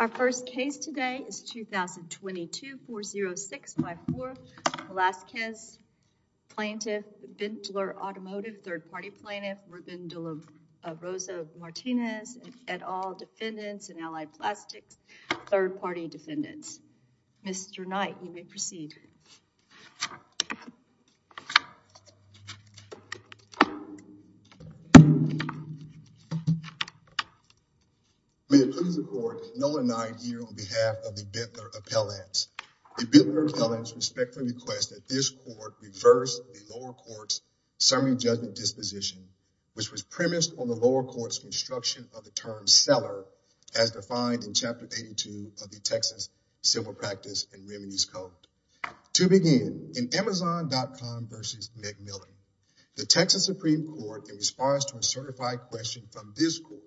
Our first case today is 2022-40654. Velazquez plaintiff, Vendler Automotive, third-party plaintiff, Ruben de la Rosa Martinez, et al. defendants, and Allied Plastics third-party defendants. Mr. Knight, you may proceed. May it please the court, Nolan Knight here on behalf of the Bentler Appellants. The Bentler Appellants respectfully request that this court reverse the lower court's summary judgment disposition, which was premised on the lower court's construction of the term as defined in Chapter 82 of the Texas Civil Practice and Remedies Code. To begin, in Amazon.com v. McMillan, the Texas Supreme Court, in response to a certified question from this court,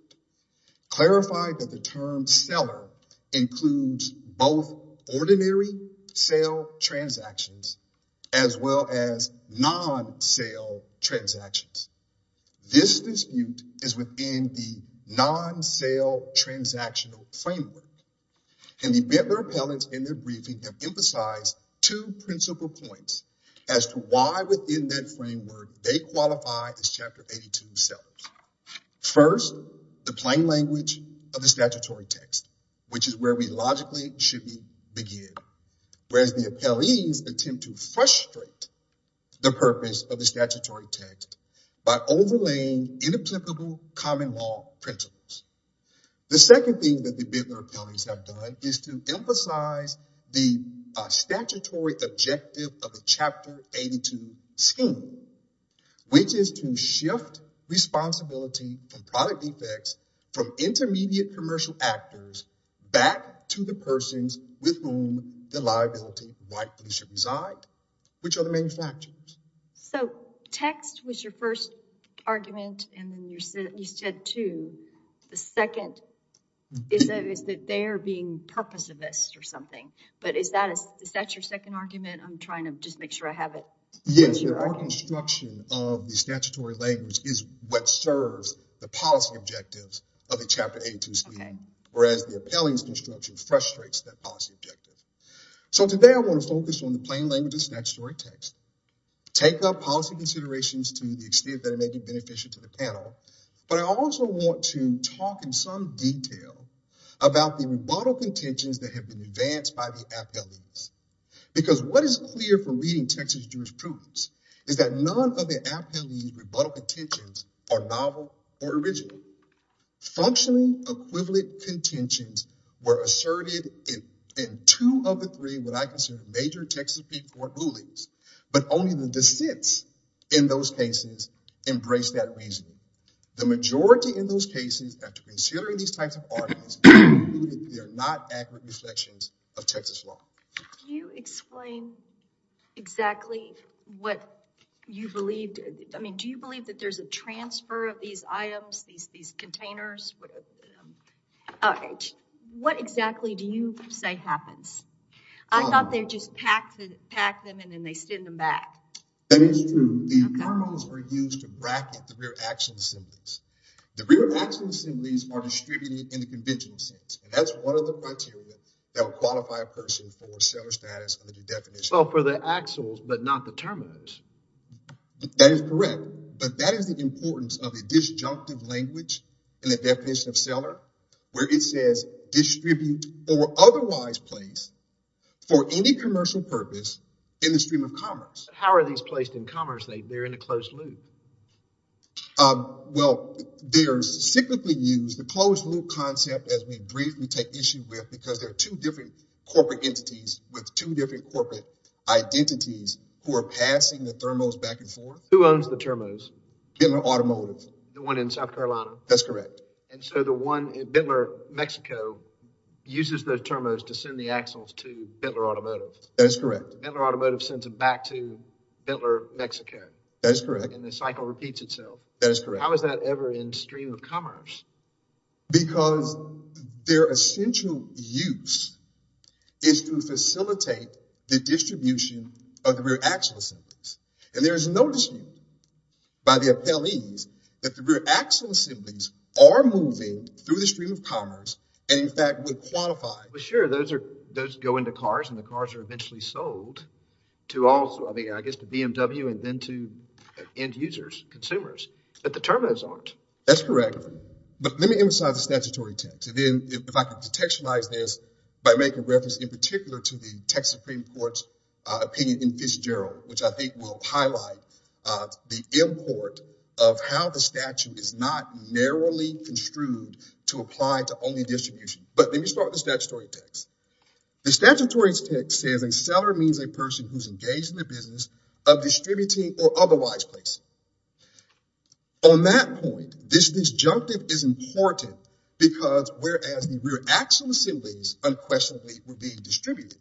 clarified that the term seller includes both ordinary sale transactions as well as non-sale transactions. This dispute is within the non-sale transactional framework, and the Bentler Appellants in their briefing have emphasized two principal points as to why within that framework they qualify as Chapter 82 sellers. First, the plain language of the statutory text, which is where we logically should begin, whereas the appellees attempt to frustrate the purpose of the statutory text by overlaying inapplicable common law principles. The second thing that the Bentler Appellants have done is to emphasize the statutory objective of the Chapter 82 scheme, which is to shift responsibility from product defects from intermediate commercial actors back to the persons with whom the liability rightfully should reside, which are the manufacturers. So text was your first argument, and then you said two. The second is that they are being purposivist or something, but is that is that your second argument? I'm trying to just make sure I have it. Yes, the construction of the statutory language is what serves the policy objectives of the Chapter 82 scheme, whereas the appellant's construction frustrates that policy objective. So today I want to focus on the plain language of the statutory text, take up policy considerations to the extent that it may be beneficial to the panel, but I also want to talk in some detail about the rebuttal contentions that have been advanced by the appellees, because what is clear from reading Texas jurisprudence is that none of the appellees' rebuttal contentions are novel or original. Functionally equivalent contentions were asserted in two of the three, what I consider, major Texas court rulings, but only the dissents in those cases embrace that reasoning. The majority in those cases, after considering these types of arguments, concluded they are not accurate reflections of Texas law. Can you explain exactly what you believed? I mean, do you believe that there's a transfer of these items, these containers? What exactly do you say happens? I thought they just pack them and then they send them back. That is true. The terms were used to bracket the rear action assemblies. The rear action assemblies are distributed in the conventional sense, and that's one of the axles, but not the terminals. That is correct, but that is the importance of a disjunctive language in the definition of seller, where it says distribute or otherwise place for any commercial purpose in the stream of commerce. How are these placed in commerce? They're in a closed loop. Well, they're typically used, the closed loop concept, as we briefly take issue with, because they're two different corporate entities with two different corporate identities who are passing the thermos back and forth. Who owns the thermos? Bentler Automotive. The one in South Carolina? That's correct. And so the one in Bentler, Mexico, uses the thermos to send the axles to Bentler Automotive. That is correct. Bentler Automotive sends it back to Bentler, Mexico. That is correct. And the cycle repeats itself. That is correct. How is that ever in stream of commerce? Because their essential use is to facilitate the distribution of the rear axle assemblies, and there is no dispute by the appellees that the rear axle assemblies are moving through the stream of commerce and, in fact, would qualify. But sure, those are, those go into cars, and the cars are eventually sold to also, I mean, I guess the BMW and then to end users, consumers, but the thermos aren't. That's correct. But let me emphasize the statutory text. And then if I could textualize this by making reference in particular to the Texas Supreme Court's opinion in Fitzgerald, which I think will highlight the import of how the statute is not narrowly construed to apply to only distribution. But let me start with the statutory text. The statutory text says a seller means a person who's engaged in the business of distributing or otherwise placing. On that point, this disjunctive is important because whereas the rear axle assemblies unquestionably were being distributed,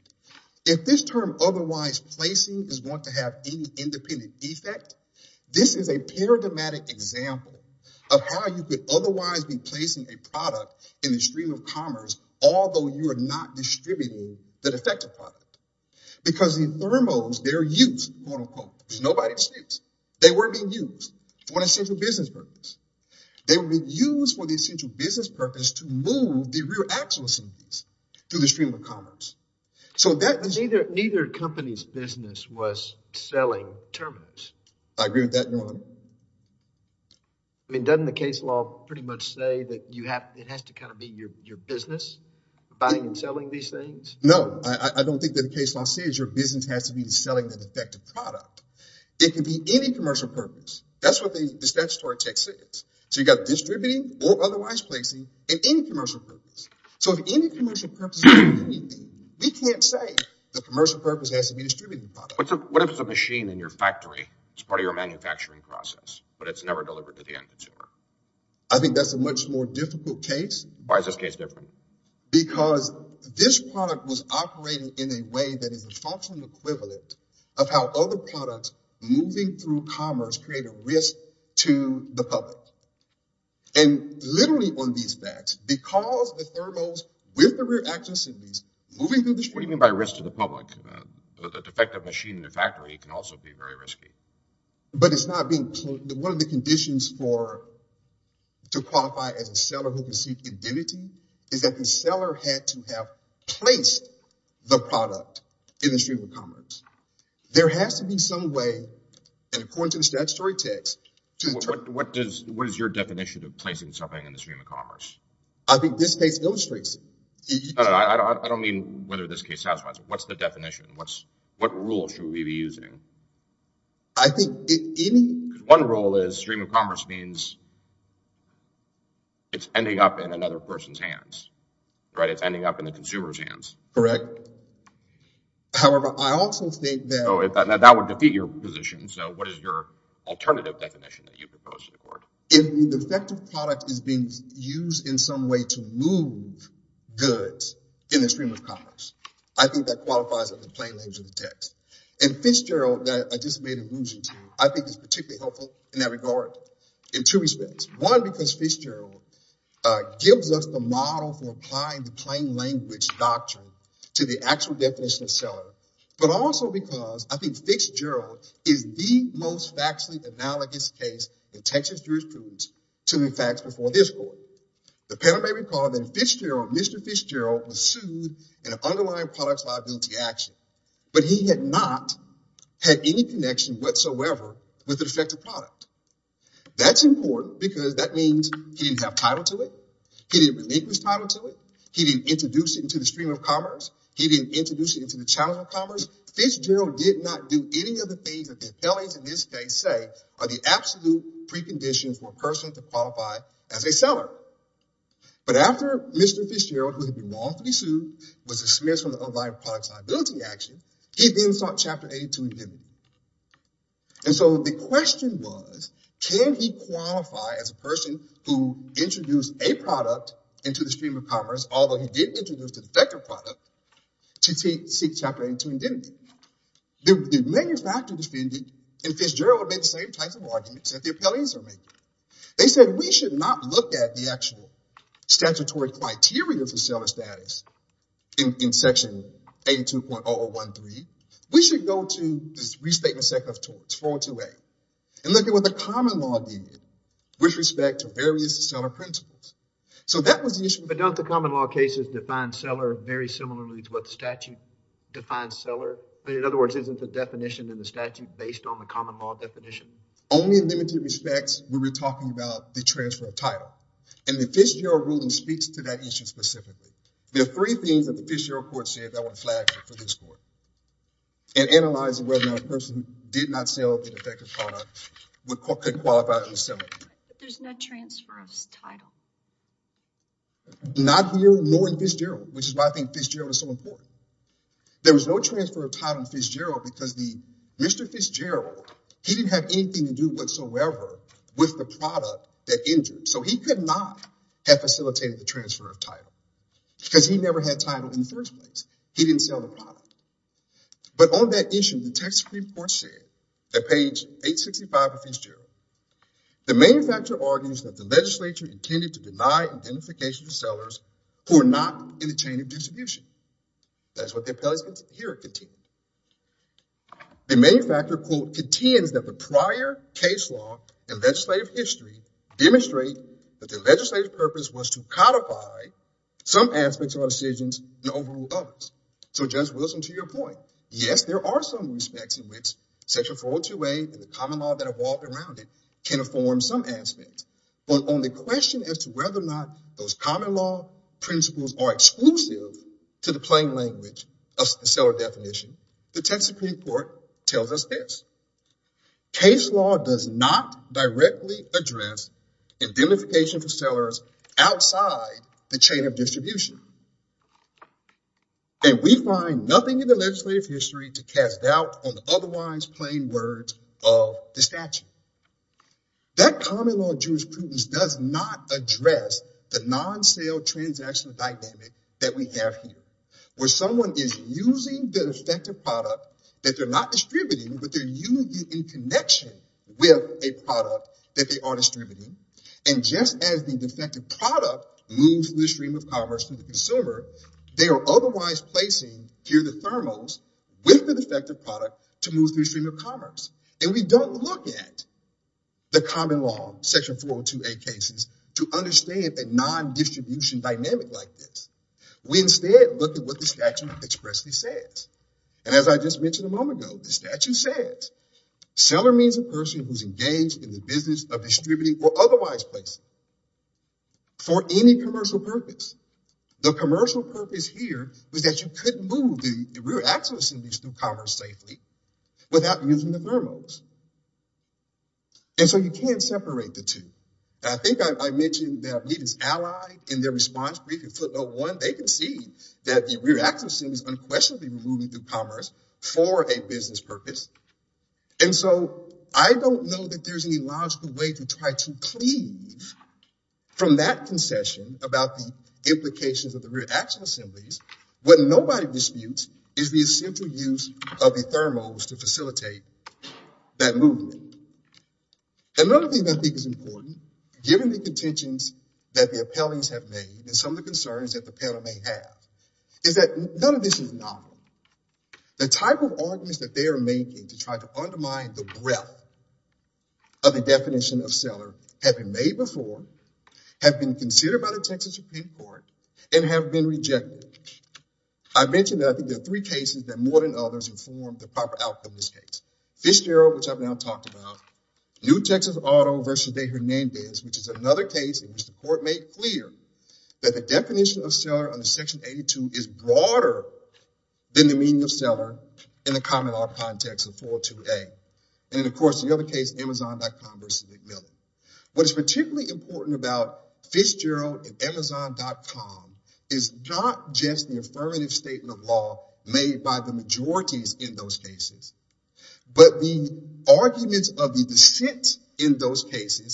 if this term otherwise placing is going to have any independent effect, this is a paradigmatic example of how you could otherwise be placing a product in the stream of commerce, although you are not distributing the defective product. Because the thermos, they're used, quote, unquote. There's nobody's use. They weren't being used for an essential business purpose. They were being used for the essential business purpose to move the rear axle assemblies through the stream of commerce. So that was... Neither company's business was selling thermos. I agree with that, Your Honor. I mean, doesn't the case law pretty much say that you have, it has to kind of be your business buying and selling these things? No, I don't think that the case law says your business has to be selling the defective product. It can be any commercial purpose. That's what the statutory text says. So you've got distributing or otherwise placing and any commercial purpose. So if any commercial purpose is anything, we can't say the commercial purpose has to be distributed. What if it's a machine in your factory? It's part of your manufacturing process, but it's never delivered to the end consumer. I think that's a much more difficult case. Why is this case different? Because this product was operating in a way that is a functional equivalent of how other products moving through commerce create a risk to the public. And literally on these facts, because the thermos with the rear axle assemblies moving through the... What do you mean by risk to the public? A defective machine in the factory can also be very risky. But it's not being... One of the conditions to qualify as a seller who can seek indemnity is that the seller had to have placed the product in the stream of commerce. There has to be some way, and according to the statutory text... What is your definition of placing something in the stream of commerce? I think this case illustrates it. I don't mean whether this case satisfies it. What's the definition? What rule should we be using? One rule is stream of commerce means it's ending up in another person's hands. It's ending up in the consumer's hands. Correct. However, I also think that... That would defeat your position. What is your alternative definition that you propose to the court? If the defective product is being the plain language of the text. And Fitzgerald that I just made allusion to, I think is particularly helpful in that regard in two respects. One, because Fitzgerald gives us the model for applying the plain language doctrine to the actual definition of seller. But also because I think Fitzgerald is the most factually analogous case in Texas jurisprudence to the facts before this court. The panel may recall that Fitzgerald, Mr. Fitzgerald was sued in an underlying product action. But he had not had any connection whatsoever with the defective product. That's important because that means he didn't have title to it. He didn't relinquish title to it. He didn't introduce it into the stream of commerce. He didn't introduce it into the challenge of commerce. Fitzgerald did not do any of the things that the felonies in this case say are the absolute preconditions for a person to qualify as a seller. But after Mr. Fitzgerald, who had been wrongfully sued, was dismissed from the underlying product liability action, he then sought Chapter 82 indemnity. And so the question was, can he qualify as a person who introduced a product into the stream of commerce, although he did introduce the defective product, to seek Chapter 82 indemnity? The manufacturer defended, and Fitzgerald made the same types of arguments that the appellees are making. They said we should not look at the actual criteria for seller status in Section 82.0013. We should go to this Restatement Sector of Torts 428 and look at what the common law did with respect to various seller principles. So that was the issue. But don't the common law cases define seller very similarly to what the statute defines seller? In other words, isn't the definition in the statute based on the common law definition? Only in limited respects, we were talking about the transfer of title. And the Fitzgerald ruling speaks to that issue specifically. There are three things that the Fitzgerald court said that were flagged for this court. In analyzing whether a person did not sell the defective product could qualify as a seller. There's no transfer of title. Not here, nor in Fitzgerald, which is why I think Fitzgerald is so important. There was no transfer of title in Fitzgerald because Mr. Fitzgerald, he didn't have anything to do whatsoever with the product that injured. So he could not have facilitated the transfer of title because he never had title in the first place. He didn't sell the product. But on that issue, the Texas Supreme Court said at page 865 of Fitzgerald, the manufacturer argues that the legislature intended to deny identification to sellers who are not in the chain of distribution. That's what the appellees here continue. The manufacturer, quote, contends that the prior case law and legislative history demonstrate that the legislative purpose was to codify some aspects of our decisions and overrule others. So Judge Wilson, to your point, yes, there are some respects in which section 402A and the common law that evolved around it can inform some aspects. But on the question as to whether or not those common law principles are exclusive to the plain language of seller definition, the Texas Supreme Court tells us this. Case law does not directly address identification for sellers outside the chain of distribution. And we find nothing in the legislative history to cast doubt on the otherwise plain words of the statute. That common law jurisprudence does not address the non-sale transaction dynamic that we have here, where someone is using the defective product that they're not distributing, but they're using it in connection with a product that they are distributing. And just as the defective product moves through the stream of commerce to the consumer, they are otherwise placing here the thermals with the defective product to move through the stream of commerce. And we don't look at the common law, section 402A cases, to understand a non-distribution dynamic like this. We instead look at what the statute expressly says. And as I just mentioned a moment ago, the statute says seller means a person who's engaged in the business of distributing or otherwise placing for any commercial purpose. The commercial purpose here was that you could move the rear axle assemblies through commerce safely without using the thermals. And so you can't see that the rear axle assemblies unquestionably moving through commerce for a business purpose. And so I don't know that there's any logical way to try to cleave from that concession about the implications of the rear axle assemblies. What nobody disputes is the essential use of the thermals to facilitate that movement. Another thing I think is important, given the contentions that the appellees have made and some of the concerns that the panel may have, is that none of this is novel. The type of arguments that they are making to try to undermine the breadth of the definition of seller have been made before, have been considered by the Texas Supreme Court, and have been rejected. I mentioned that I think there are three cases that more than others inform the proper outcome of this case. Fish Darrow, which I've now talked about, New Texas Auto v. Daher Nambiz, which is another case in which the court made clear that the definition of seller under section 82 is broader than the meaning of seller in the common law context of 428. And of course, the other case, Amazon.com v. McMillan. What is particularly important about Fish Darrow and Amazon.com is not just the affirmative statement of law made by the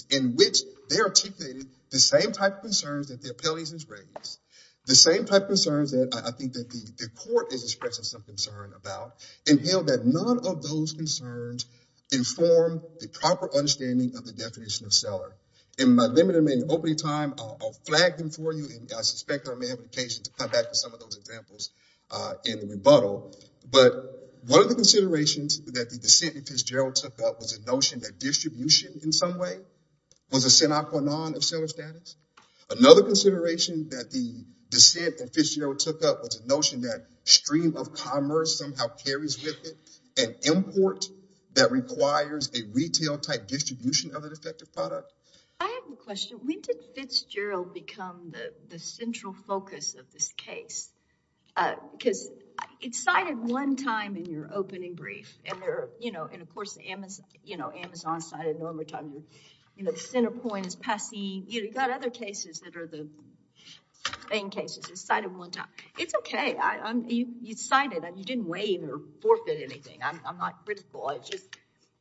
in which they're articulating the same type of concerns that the appellees have raised, the same type of concerns that I think that the court is expressing some concern about, and feel that none of those concerns inform the proper understanding of the definition of seller. In my limited remaining opening time, I'll flag them for you, and I suspect there may be occasions to come back to some of those examples in the rebuttal, but one of the considerations that the dissent that Fitzgerald took up was a notion that distribution in some way was a sine qua non of seller status. Another consideration that the dissent that Fitzgerald took up was a notion that stream of commerce somehow carries with it an import that requires a retail type distribution of an effective product. I have a question. When did Fitzgerald become the central focus of this case? Because it's cited one time in your opening brief, and there are, you know, and of course the Amazon, you know, Amazon cited it a number of times. You know, the center point is passing. You know, you've got other cases that are the main cases. It's cited one time. It's okay. You cited it. You didn't weigh in or forfeit anything. I'm not critical. It's just,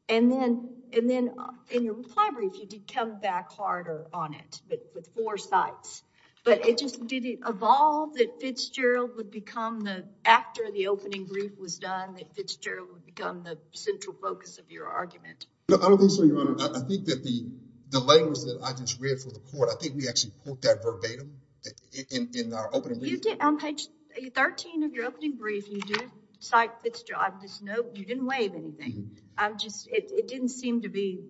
and then in your reply brief, you did come back harder on it, but with four sites, but it just did evolve that Fitzgerald would become the actor of the opening group was done that Fitzgerald would become the central focus of your argument. I don't think so. Your honor, I think that the delay was that I just read for the court. I think we actually put that verbatim in our opening. You did on page 13 of your opening brief. You did cite Fitzgerald. I just know you didn't waive anything. I'm just, it didn't seem to be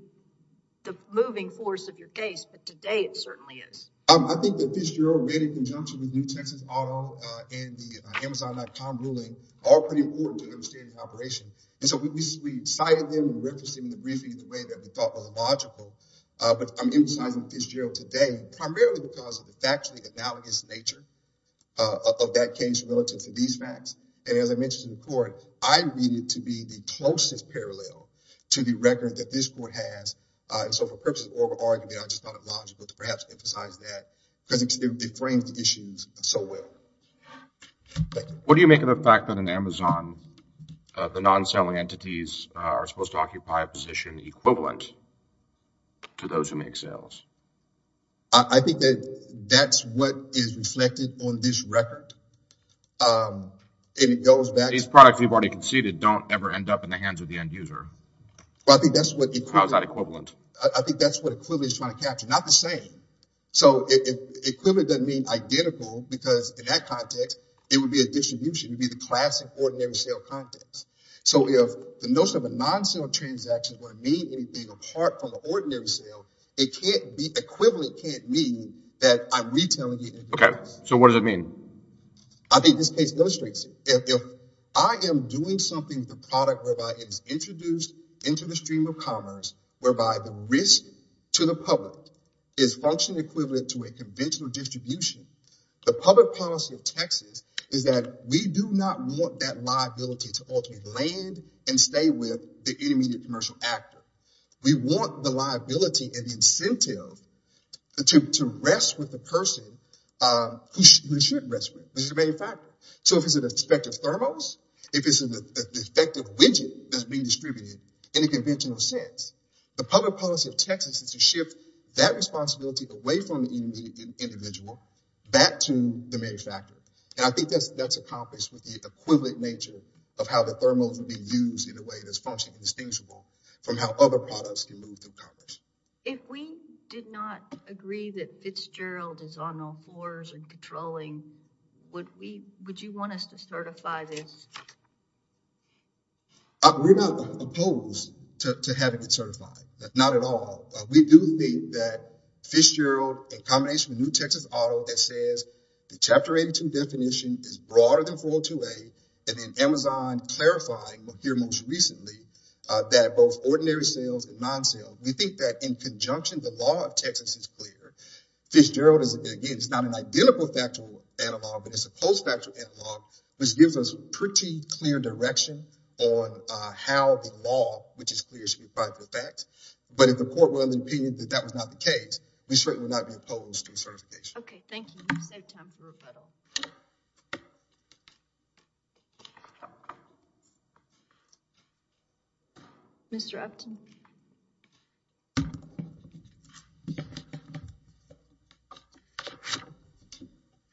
the moving force of your case, but today it certainly is. I think that Fitzgerald made in conjunction with New Texas Auto and the Amazon.com ruling are pretty important to understand the operation. And so we cited them, we referenced them in the briefing in the way that we thought was logical, but I'm emphasizing Fitzgerald today, primarily because of the factually analogous nature of that case relative to these facts. And as I mentioned to the court, I read it to be the closest parallel to the record that this court has. And so for purposes of oral argument, I just thought it logical to perhaps emphasize that because it frames the issues so well. Thank you. What do you make of the fact that in Amazon, the non-selling entities are supposed to occupy a position equivalent to those who make sales? I think that that's what is reflected on this record. And it goes back to- These products you've already conceded don't ever end up in the hands of the end user. Well, I think that's what- How is that equivalent? I think that's what equivalent is trying to capture. Not the same. So equivalent doesn't mean identical because in that context, it would be a distribution. It'd be the classic ordinary sale context. So if the notion of a non-sale transaction wouldn't mean anything apart from the ordinary sale, equivalent can't mean that I'm retailing it- Okay. So what does it mean? I think this case illustrates it. If I am doing something with a product whereby it is introduced into the stream of commerce, whereby the risk to the public is function equivalent to a conventional distribution, the public policy of Texas is that we do not want that liability to ultimately land and stay with the intermediate commercial actor. We want the liability and the incentive to rest with the person who they should rest with. This is the main factor. So if it's an thermos, if it's an effective widget that's being distributed in a conventional sense, the public policy of Texas is to shift that responsibility away from the individual, back to the manufacturer. And I think that's accomplished with the equivalent nature of how the thermos would be used in a way that's function indistinguishable from how other products can move through commerce. If we did not agree that Fitzgerald is on all and controlling, would you want us to certify this? We're not opposed to having it certified. Not at all. We do think that Fitzgerald, in combination with New Texas Auto, that says the Chapter 82 definition is broader than 402A, and then Amazon clarifying here most recently that both ordinary sales and non-sales. We think in conjunction, the law of Texas is clear. Fitzgerald is, again, it's not an identical factual analog, but it's a post-factual analog, which gives us pretty clear direction on how the law, which is clear, should be applied for facts. But if the court were of the opinion that that was not the case, we certainly would not be opposed to certification. Okay, thank you. We'll save time for rebuttal. Mr. Upton. Good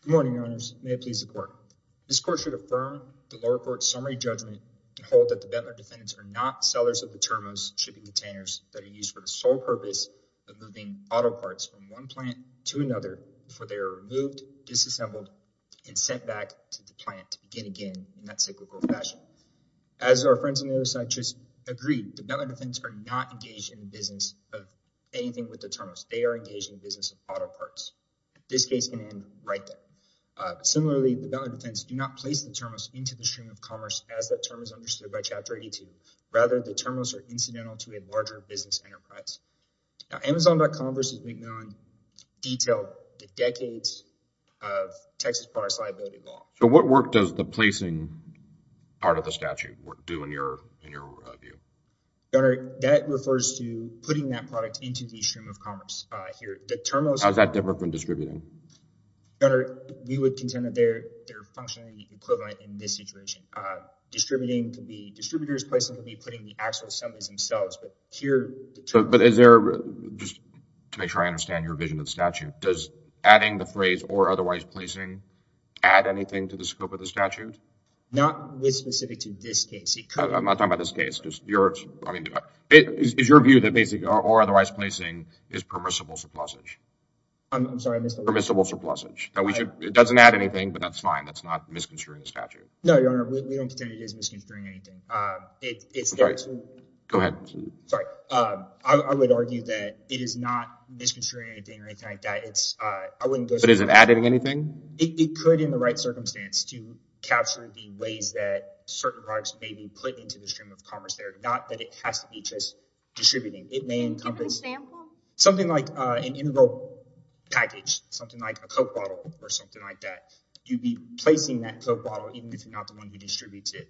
morning, Your Honors. May it please the Court. This Court should affirm the lower court's summary judgment and hold that the Bettler defendants are not sellers of the thermos shipping containers that are used for the sole purpose of moving auto parts from one plant to another before they are removed, disassembled, and sent back to the plant to begin again in that cyclical fashion. As our friends on the other side just agreed, the Bettler defendants are not engaged in the business of anything with the thermos. They are engaged in the business of auto parts. This case can end right there. Similarly, the Bettler defendants do not place the thermos into the stream of commerce as that term is understood by Chapter 82. Rather, the thermos are incidental to a larger business enterprise. Now, Amazon.com versus McMillan detailed the decades of Texas parts liability law. So what work does the placing part of the statute do in your view? Your Honor, that refers to putting that product into the stream of commerce here. The thermos... How is that different from distributing? Your Honor, we would contend that they're functionally equivalent in this situation. Distributing could be distributors placing the thermos, distributing could be putting the actual assemblies themselves, but here... But is there, just to make sure I understand your vision of the statute, does adding the phrase or otherwise placing add anything to the scope of the statute? Not with specific to this case. I'm not talking about this case. Is your view that basically or otherwise placing is permissible surplusage? I'm sorry, I missed the word. Permissible surplusage. It doesn't add anything, but that's fine. That's not misconstruing the statute. No, Your Honor, we don't contend it is misconstruing anything. Go ahead. Sorry. I would argue that it is not misconstruing anything or anything like that. I wouldn't go... But is it adding anything? It could in the right circumstance to capture the ways that certain products may be put into the stream of commerce there, not that it has to be just distributing. It may encompass something like an integral package, something like a Coke bottle or something like that. You'd be placing that Coke bottle, even if you're not the one who distributes it.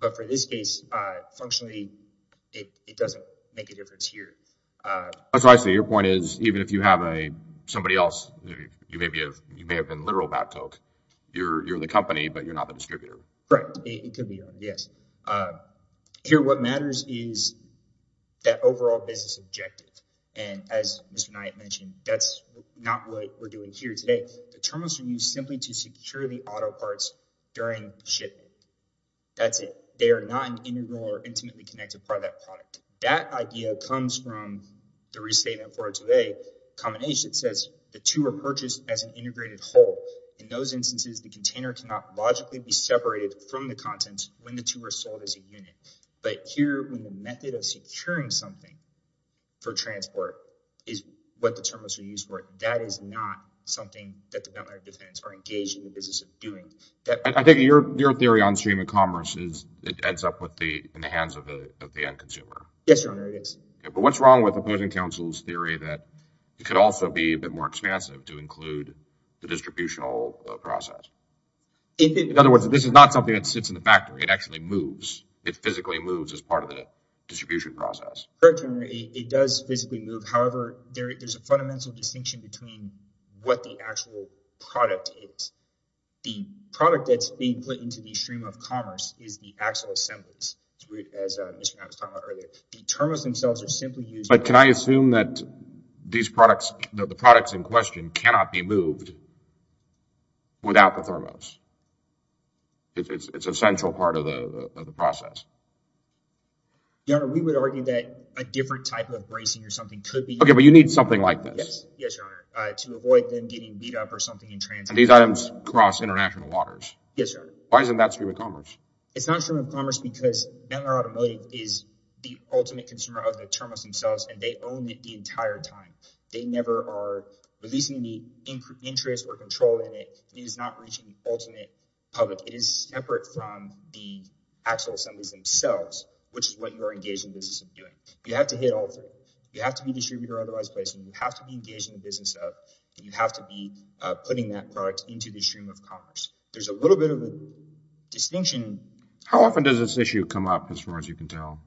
But for this case, functionally, it doesn't make a difference here. That's why I say your point is even if you have somebody else, you may have been literal about Coke, you're the company, but you're not the distributor. Correct. It could be. Yes. Here, what matters is that overall business objective. And as Mr. Knight mentioned, that's not what we're doing here today. The terms are used simply to secure the auto parts during shipment. That's it. They are not an integral or intimately connected part of that product. That idea comes from the restatement for today. Combination says the two are purchased as an integrated whole. In those instances, the container cannot logically be separated from the contents when the two are sold as a unit. But here, when the method of securing something for transport is what the terms are used for, that is not something that the Bentley Defense are engaged in the business of doing. I think your theory on stream of commerce is it ends up in the hands of the end consumer. Yes, Your Honor, it is. But what's wrong with opposing counsel's theory that it could also be a bit more expansive to include the distributional process? In other words, this is not something that sits in the factory. It actually moves. It physically moves as part of the distribution process. Correct, Your Honor. It does physically move. However, there's a fundamental distinction between what the actual product is. The product that's being put into the stream of commerce is the actual assemblies. As Mr. Knapp was talking about earlier, the terms themselves are simply used. But can I assume that these products, the products in question cannot be moved without the thermos? It's an essential part of the process. Your Honor, we would argue that a different type of bracing or something could be... Okay, but you need something like this. Yes, Your Honor, to avoid them getting beat up or something in transit. These items cross international waters. Yes, Your Honor. Why isn't that stream of commerce? It's not stream of commerce because Bentley Automotive is the ultimate consumer of the thermos themselves and they own it the entire time. They never are releasing the interest or control in it. It is not reaching the ultimate public. It is separate from the actual assemblies themselves, which is what you are engaged in business of doing. You have to hit all three. You have to be distributor or otherwise placement. You have to be engaged in the business of, and you have to be putting that product into the stream of commerce. There's a little bit of a distinction. How often does this issue come up as far as you can tell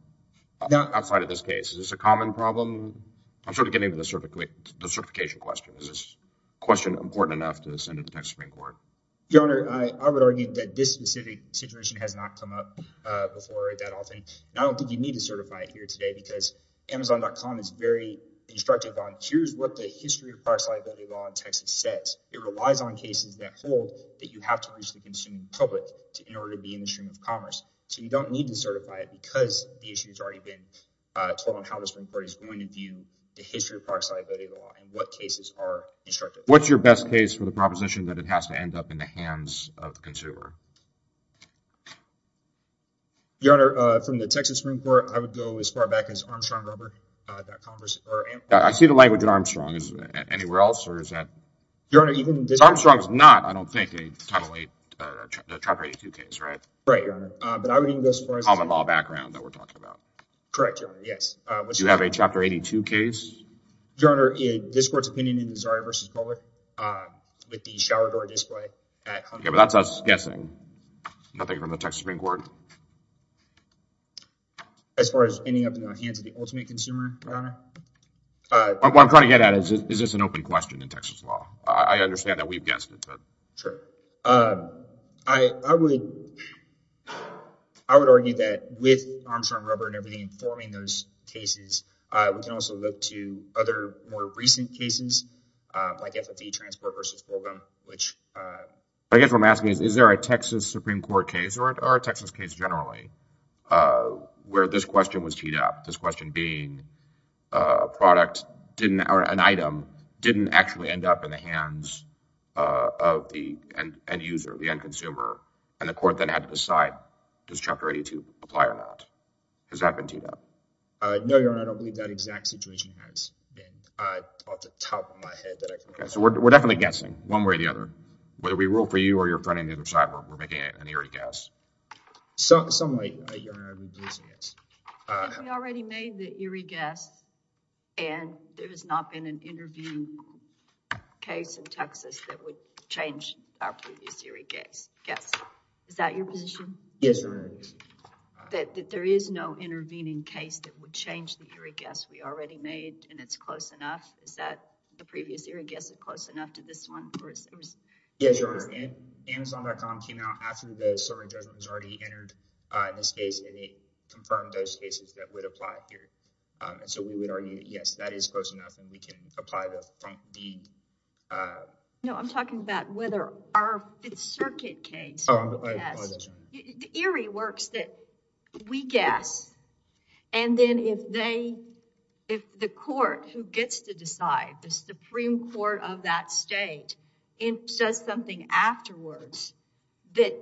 outside of this case? Is this a common problem? I'm sort of getting to the certification question. Is this question important enough to send it to Texas Supreme Court? Your Honor, I would argue that this specific situation has not come up before that often. And I don't think you need to certify it here today because Amazon.com is very instructive on here's what the history of product liability law in Texas says. It relies on cases that hold that you have to reach the consumer public in order to be in the stream of commerce. So you don't need to certify it because the issue has already been told on how the Supreme Court is going to view the history of product liability law and what cases are instructive. What's your best case for the proposition that it has to end up in the hands of the consumer? Your Honor, from the Texas Supreme Court, I would go as far back as Armstrong Rubber. I see the language in Armstrong. Is it anywhere else or is that? Armstrong is not, I don't think, a Title VIII, Chapter 82 case, right? Right, Your Honor. But I would even go as far as- Common law background that we're talking about. Correct, Your Honor. Yes. Do you have a Chapter 82 case? Your Honor, this court's opinion in the Zari v. Pollard with the shower door display at- Okay, but that's us guessing. Nothing from the Texas Supreme Court? As far as ending up in the hands of the ultimate consumer, Your Honor? What I'm trying to get at is, is this an open question in Texas law? I understand that we've guessed it, but- Sure. I would argue that with Armstrong Rubber and everything informing those other more recent cases, like FFE Transport v. Holcomb, which- I guess what I'm asking is, is there a Texas Supreme Court case or a Texas case generally where this question was teed up? This question being, a product or an item didn't actually end up in the hands of the end user, the end consumer, and the court then had to decide, does Chapter 82 apply or not? Has that been teed up? No, Your Honor. I don't believe that exact situation has been off the top of my head. We're definitely guessing one way or the other. Whether we rule for you or your friend on the other side, we're making an eerie guess. Someway, Your Honor, we're guessing it. If we already made the eerie guess and there has not been an interview case in Texas that would change our previous eerie guess, is that your position? Yes, Your Honor. That there is no intervening case that would change the eerie guess we already made and it's close enough? Is that the previous eerie guess is close enough to this one? Yes, Your Honor. Amazon.com came out after the serving judgment was already entered in this case and it confirmed those cases that would apply here. And so we would argue, yes, that is close enough and we can apply the front deed. No, I'm talking about whether our circuit case- Oh, I apologize, Your Honor. Eerie works that we guess and then if the court who gets to decide, the Supreme Court of that state, says something afterwards that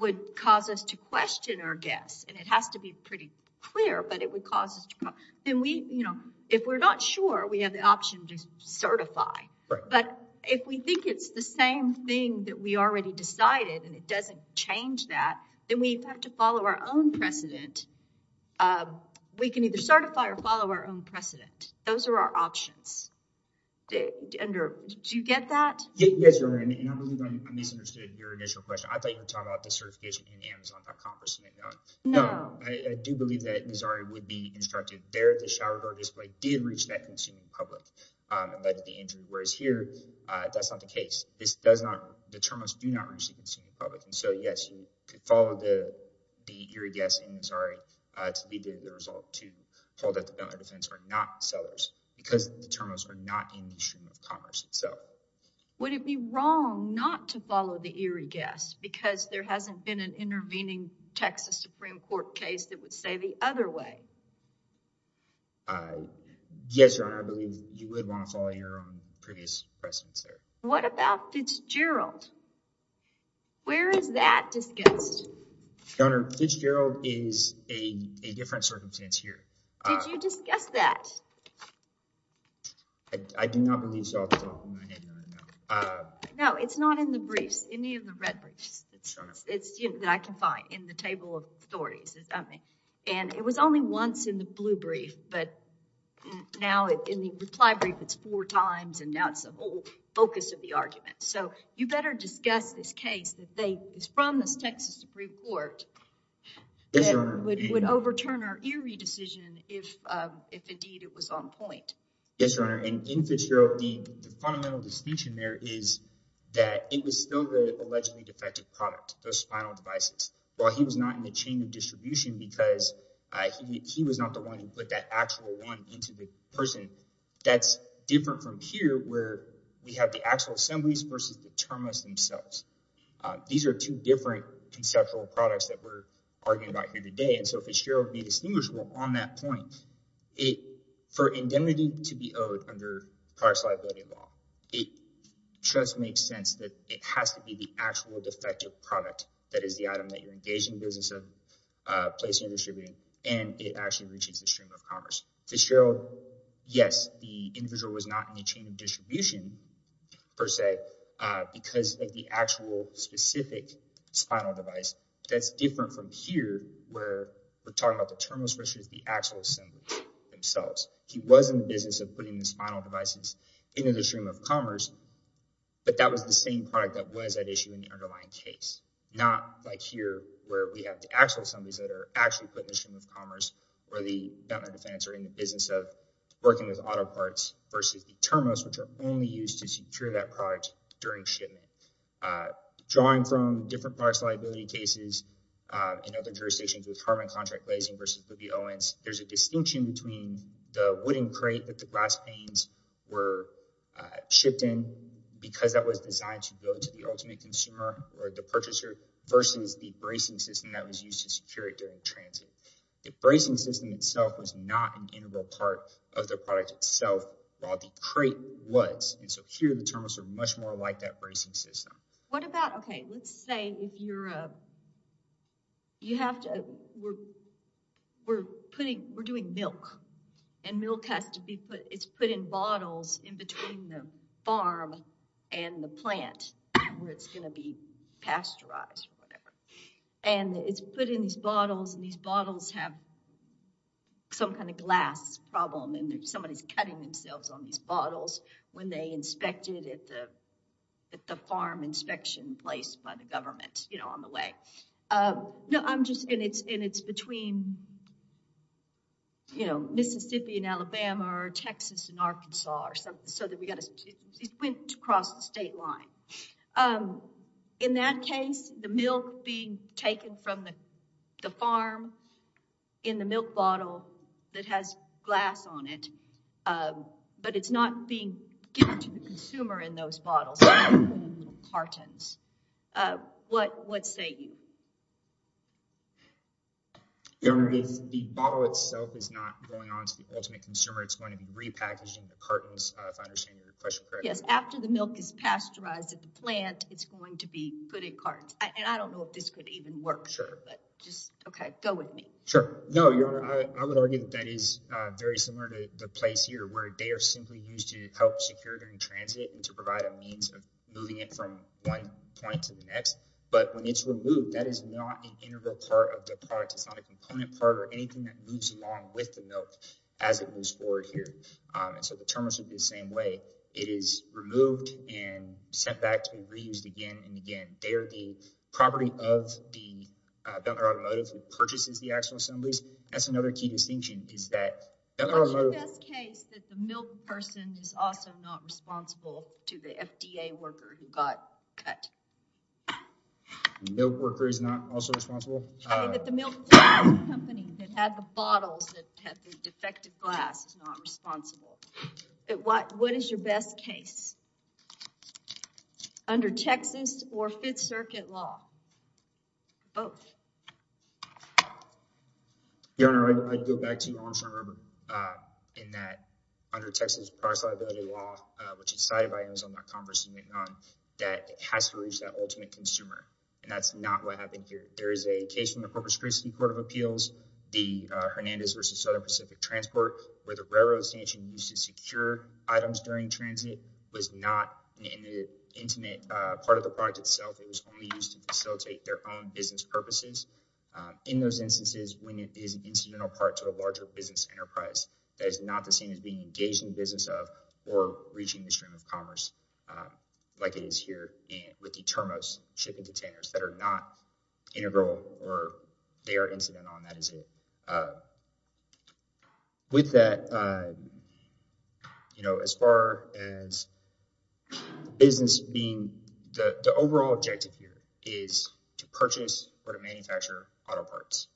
would cause us to question our guess, and it has to be pretty clear, but it would cause us to- If we're not sure, we have the option to certify. But if we think it's the same thing that we already decided and it doesn't change that, then we have to follow our own precedent. We can either certify or follow our own precedent. Those are our options. Do you get that? Yes, Your Honor, and I believe I misunderstood your initial question. I thought you were talking about the certification in Amazon.com versus McDonald's. No. I do believe that Missouri would be instructed there at the shower door display did reach that consumer public and led to the injury. Whereas here, that's not the case. This does not- So, yes, you could follow the eerie guess in Missouri to be the result to hold up the defense or not sellers because the terminals are not in the stream of commerce itself. Would it be wrong not to follow the eerie guess because there hasn't been an intervening Texas Supreme Court case that would say the other way? Yes, Your Honor, I believe you would want to follow your own previous precedents there. What about Fitzgerald? Where is that discussed? Your Honor, Fitzgerald is a different circumstance here. Did you discuss that? I do not believe so. No, it's not in the briefs, any of the red briefs. It's that I can find in the table of stories. It was only once in the blue brief, but now in the reply brief, it's four times and now the whole focus of the argument. So, you better discuss this case that is from the Texas Supreme Court that would overturn our eerie decision if indeed it was on point. Yes, Your Honor, and in Fitzgerald, the fundamental distinction there is that it was still the allegedly defective product, those spinal devices. While he was not in the chain of distribution because he was not the one who put that actual one into the person. That's different from here where we have the actual assemblies versus the term lists themselves. These are two different conceptual products that we're arguing about here today. And so, Fitzgerald made distinguishable on that point. For indemnity to be owed under prior liability law, it just makes sense that it has to be the actual defective product that is the item that you engage in the business of placing and distributing, and it actually reaches the stream of commerce. Fitzgerald, yes, the individual was not in the chain of distribution, per se, because of the actual specific spinal device. That's different from here where we're talking about the term list versus the actual assemblies themselves. He was in the business of putting the spinal devices into the stream of commerce, but that was the same product that was at issue in the underlying case. Not like here where we have the actual assemblies that are actually put in the stream of commerce or the auto parts versus the term lists, which are only used to secure that product during shipment. Drawing from different parts liability cases and other jurisdictions with Harmon Contract Glazing versus Boogie Owens, there's a distinction between the wooden crate that the glass panes were shipped in because that was designed to go to the ultimate consumer or the purchaser versus the bracing system that was used to secure it during transit. The bracing system itself was not an integral part of the product itself, while the crate was, and so here the terminals are much more like that bracing system. What about, okay, let's say if you're, you have to, we're putting, we're doing milk, and milk has to be put, it's put in bottles in between the farm and the plant where it's going to be pasteurized or whatever, and it's put in these glass bottles, and somebody's cutting themselves on these bottles when they inspect it at the farm inspection place by the government, you know, on the way. No, I'm just, and it's between, you know, Mississippi and Alabama or Texas and Arkansas or something, so that we got to, it went across the state line. In that case, the milk being taken from the farm in the milk bottle that has glass on it, but it's not being given to the consumer in those bottles, cartons, what say you? The owner, if the bottle itself is not going on to the ultimate consumer, it's going to be repackaged in the cartons, if I understand your question correctly. Yes, after the milk is pasteurized at the plant, it's going to be put in cartons, and I don't know if this could even work, but just, okay, go with me. Sure, no, your honor, I would argue that that is very similar to the place here, where they are simply used to help secure during transit and to provide a means of moving it from one point to the next, but when it's removed, that is not an integral part of the product. It's not a component part or anything that moves along with the milk as it moves forward here, and so the terminals would be the same way. It is removed and sent back to be reused again and they are the property of the Belkner Automotive, who purchases the axle assemblies. That's another key distinction, is that the Belkner Automotive. What's your best case that the milk person is also not responsible to the FDA worker who got cut? The milk worker is not also responsible? Okay, that the milk company that had the bottles that had the defective glass is not responsible. What is your best case? Under Texas or Fifth Circuit law? Both. Your honor, I'd go back to Armstrong Rubin, in that under Texas parcel liability law, which is cited by Amazon.com versus VidCon, that it has to reach that ultimate consumer, and that's not what happened here. There is a case from the Corpus Christi Court of Appeals, the Hernandez versus Southern Pacific Transport, where the railroad station used to secure items during transit, was not an intimate part of the product itself. It was only used to facilitate their own business purposes. In those instances, when it is an incidental part to a larger business enterprise, that is not the same as being engaged in the business of or reaching the stream of commerce, like it is here with the Termos shipping containers, that are not integral or they are not an incident. With that, as far as business being, the overall objective here is to purchase or to manufacture auto parts.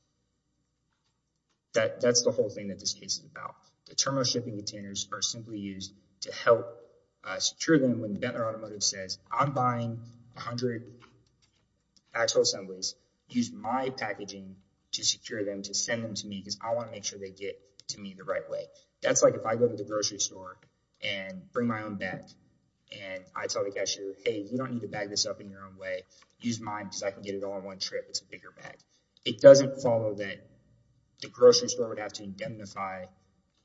That's the whole thing that this case is about. The Termos shipping containers are simply used to help secure them when Bentley Automotive says, I'm buying 100 axle assemblies, use my packaging to secure them, to send them to me because I want to make sure they get to me the right way. That's like if I go to the grocery store and bring my own bag, and I tell the cashier, hey, you don't need to bag this up in your own way. Use mine because I can get it all in one trip. It's a bigger bag. It doesn't follow that the grocery store would have to indemnify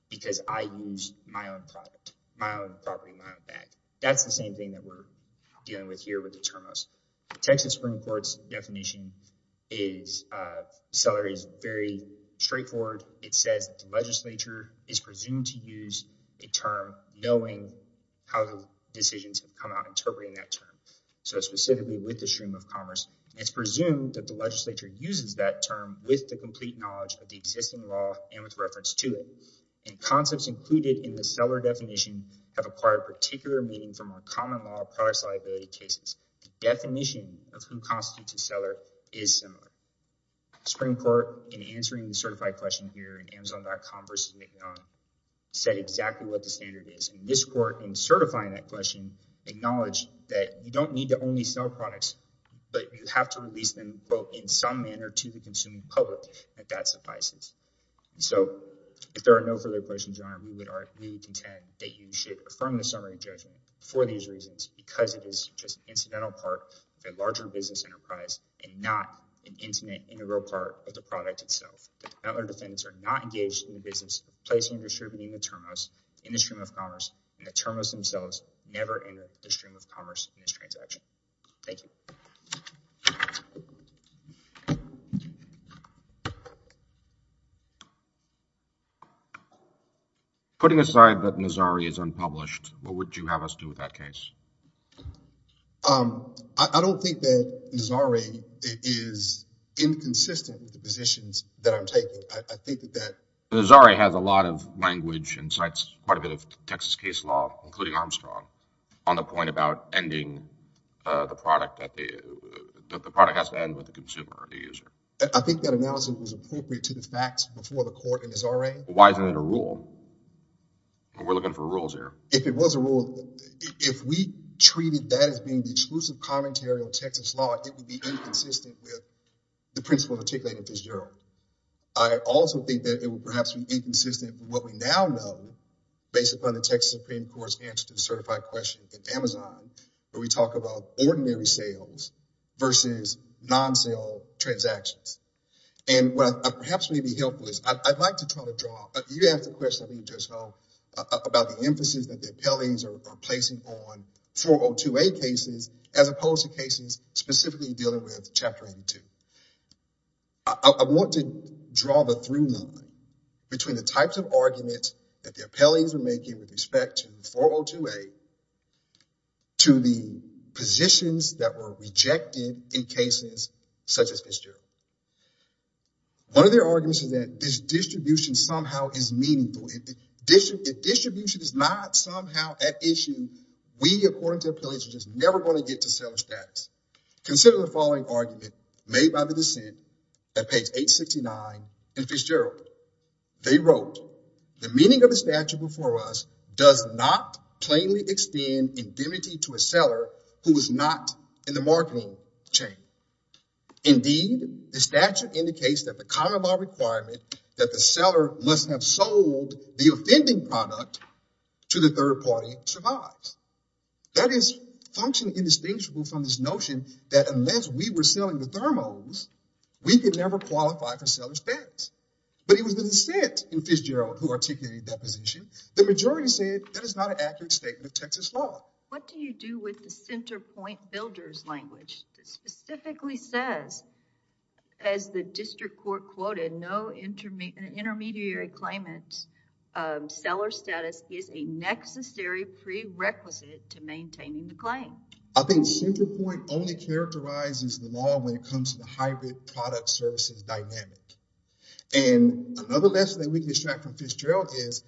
because I use my own product, my own property, my own bag. That's the same thing we're dealing with here with the Termos. The Texas Supreme Court's definition is very straightforward. It says the legislature is presumed to use a term knowing how the decisions have come out interpreting that term. Specifically with the stream of commerce, it's presumed that the legislature uses that term with the complete knowledge of the existing law and with reference to it. Concepts included in the seller definition have acquired particular meaning from our common cases. The definition of who constitutes a seller is similar. The Supreme Court, in answering the certified question here in Amazon.com versus McDonnell, said exactly what the standard is. This court, in certifying that question, acknowledged that you don't need to only sell products, but you have to release them in some manner to the consuming public, if that suffices. If there are no further questions, Your Honor, we would contend that you should affirm the summary judgment for these reasons because it is just an incidental part of a larger business enterprise and not an intimate integral part of the product itself. The defendants are not engaged in the business of placing and distributing the Termos in the stream of commerce, and the Termos themselves never entered the stream of commerce in this transaction. Thank you. Putting aside that Nazari is unpublished, what would you have us do with that case? Um, I don't think that Nazari is inconsistent with the positions that I'm taking. I think that Nazari has a lot of language and cites quite a bit of Texas case law, including Armstrong, on the point about ending, uh, the product that the, that the product has to end with the consumer or the user. I think that analysis was appropriate to the facts before the court in Nazari. Why isn't it a rule? We're looking for rules here. If it was a rule, if we treated that as being the exclusive commentary on Texas law, it would be inconsistent with the principle articulated in Fitzgerald. I also think that it would perhaps be inconsistent with what we now know, based upon the Texas Supreme Court's answer to the certified question at Amazon, where we talk about ordinary sales versus non-sale transactions. And what I, perhaps may be helpful is I'd like to try to draw, you asked the question I didn't just know, about the emphasis that the appellees are placing on 402A cases, as opposed to cases specifically dealing with Chapter 82. I want to draw the through line between the types of appellees we're making with respect to 402A, to the positions that were rejected in cases such as Fitzgerald. One of their arguments is that this distribution somehow is meaningful. If distribution is not somehow at issue, we, according to appellees, are just never going to get to seller status. Consider the following argument made by the dissent at page 869 in Fitzgerald. They wrote, the meaning of the statute before us does not plainly extend indemnity to a seller who is not in the marketing chain. Indeed, the statute indicates that the common law requirement that the seller must have sold the offending product to the third party survives. That is functionally indistinguishable from this notion that unless we were selling the thermos, we could never qualify for seller status. But it was the dissent in Fitzgerald who articulated that position. The majority said that is not an accurate statement of Texas law. What do you do with the center point builder's language that specifically says, as the district court quoted, no intermediary claimant's seller status is a necessary prerequisite to maintaining the claim. I think center point only characterizes the law when it comes to the private product services dynamic. Another lesson that we can extract from Fitzgerald is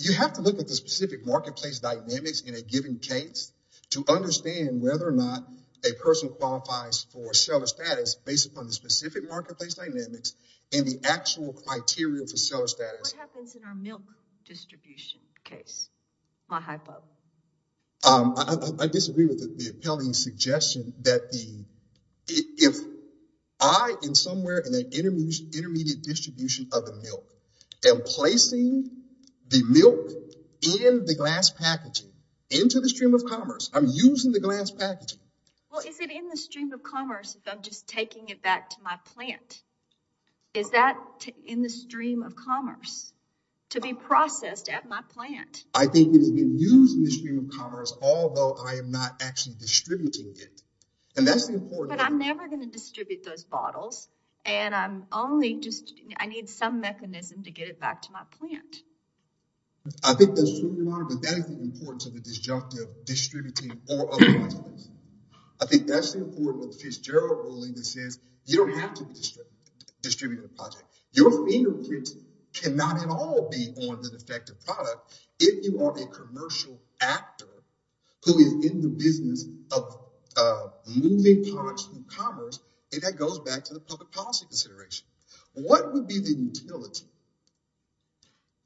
you have to look at the specific marketplace dynamics in a given case to understand whether or not a person qualifies for seller status based upon the specific marketplace dynamics and the actual criteria for seller status. What happens in our milk distribution case? My hypo. I disagree with the appellee's suggestion that if I am somewhere in an intermediate distribution of the milk and placing the milk in the glass packaging into the stream of commerce, I'm using the glass packaging. Well, is it in the stream of commerce if I'm just taking it back to my plant? Is that in the stream of commerce to be processed at my plant? I think it is being used in the stream of commerce, although I am not actually distributing it. But I'm never going to distribute those bottles and I'm only just, I need some mechanism to get it back to my plant. I think that's true, Your Honor, but that is the importance of the disjunctive distributing or otherwise. I think that's the important with Fitzgerald ruling that says you don't have to distribute the project. Your fingerprints cannot at all be on the defective product if you are a commercial actor who is in the business of moving products from commerce, and that goes back to the public policy consideration. What would be the utility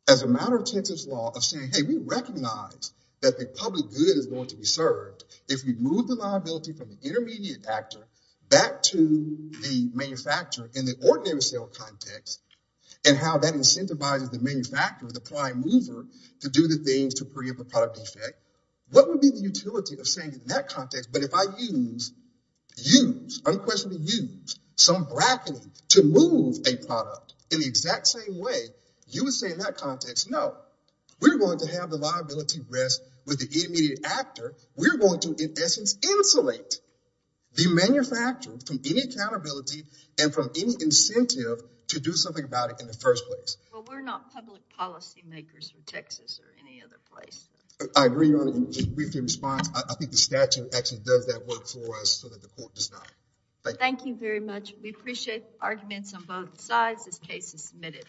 as a matter of census law of saying, hey, we recognize that the public good is going to be served if we move the liability from the intermediate actor back to the manufacturer in the ordinary sale context and how that incentivizes the manufacturer, the prime mover, to do the things to preempt the product defect? What would be the utility of saying in that context, but if I use, use, unquestionably use some bracketing to move a product in the exact same way, you would say in that context, no, we're going to have the liability rest with the intermediate actor. We're going to, in essence, insulate the manufacturer from any accountability and from any incentive to do something about it in the first place. Well, we're not public policy makers from Texas or any other place. I agree with your response. I think the statute actually does that work for us so that the court does not. Thank you very much. We appreciate arguments on both sides. This case is submitted.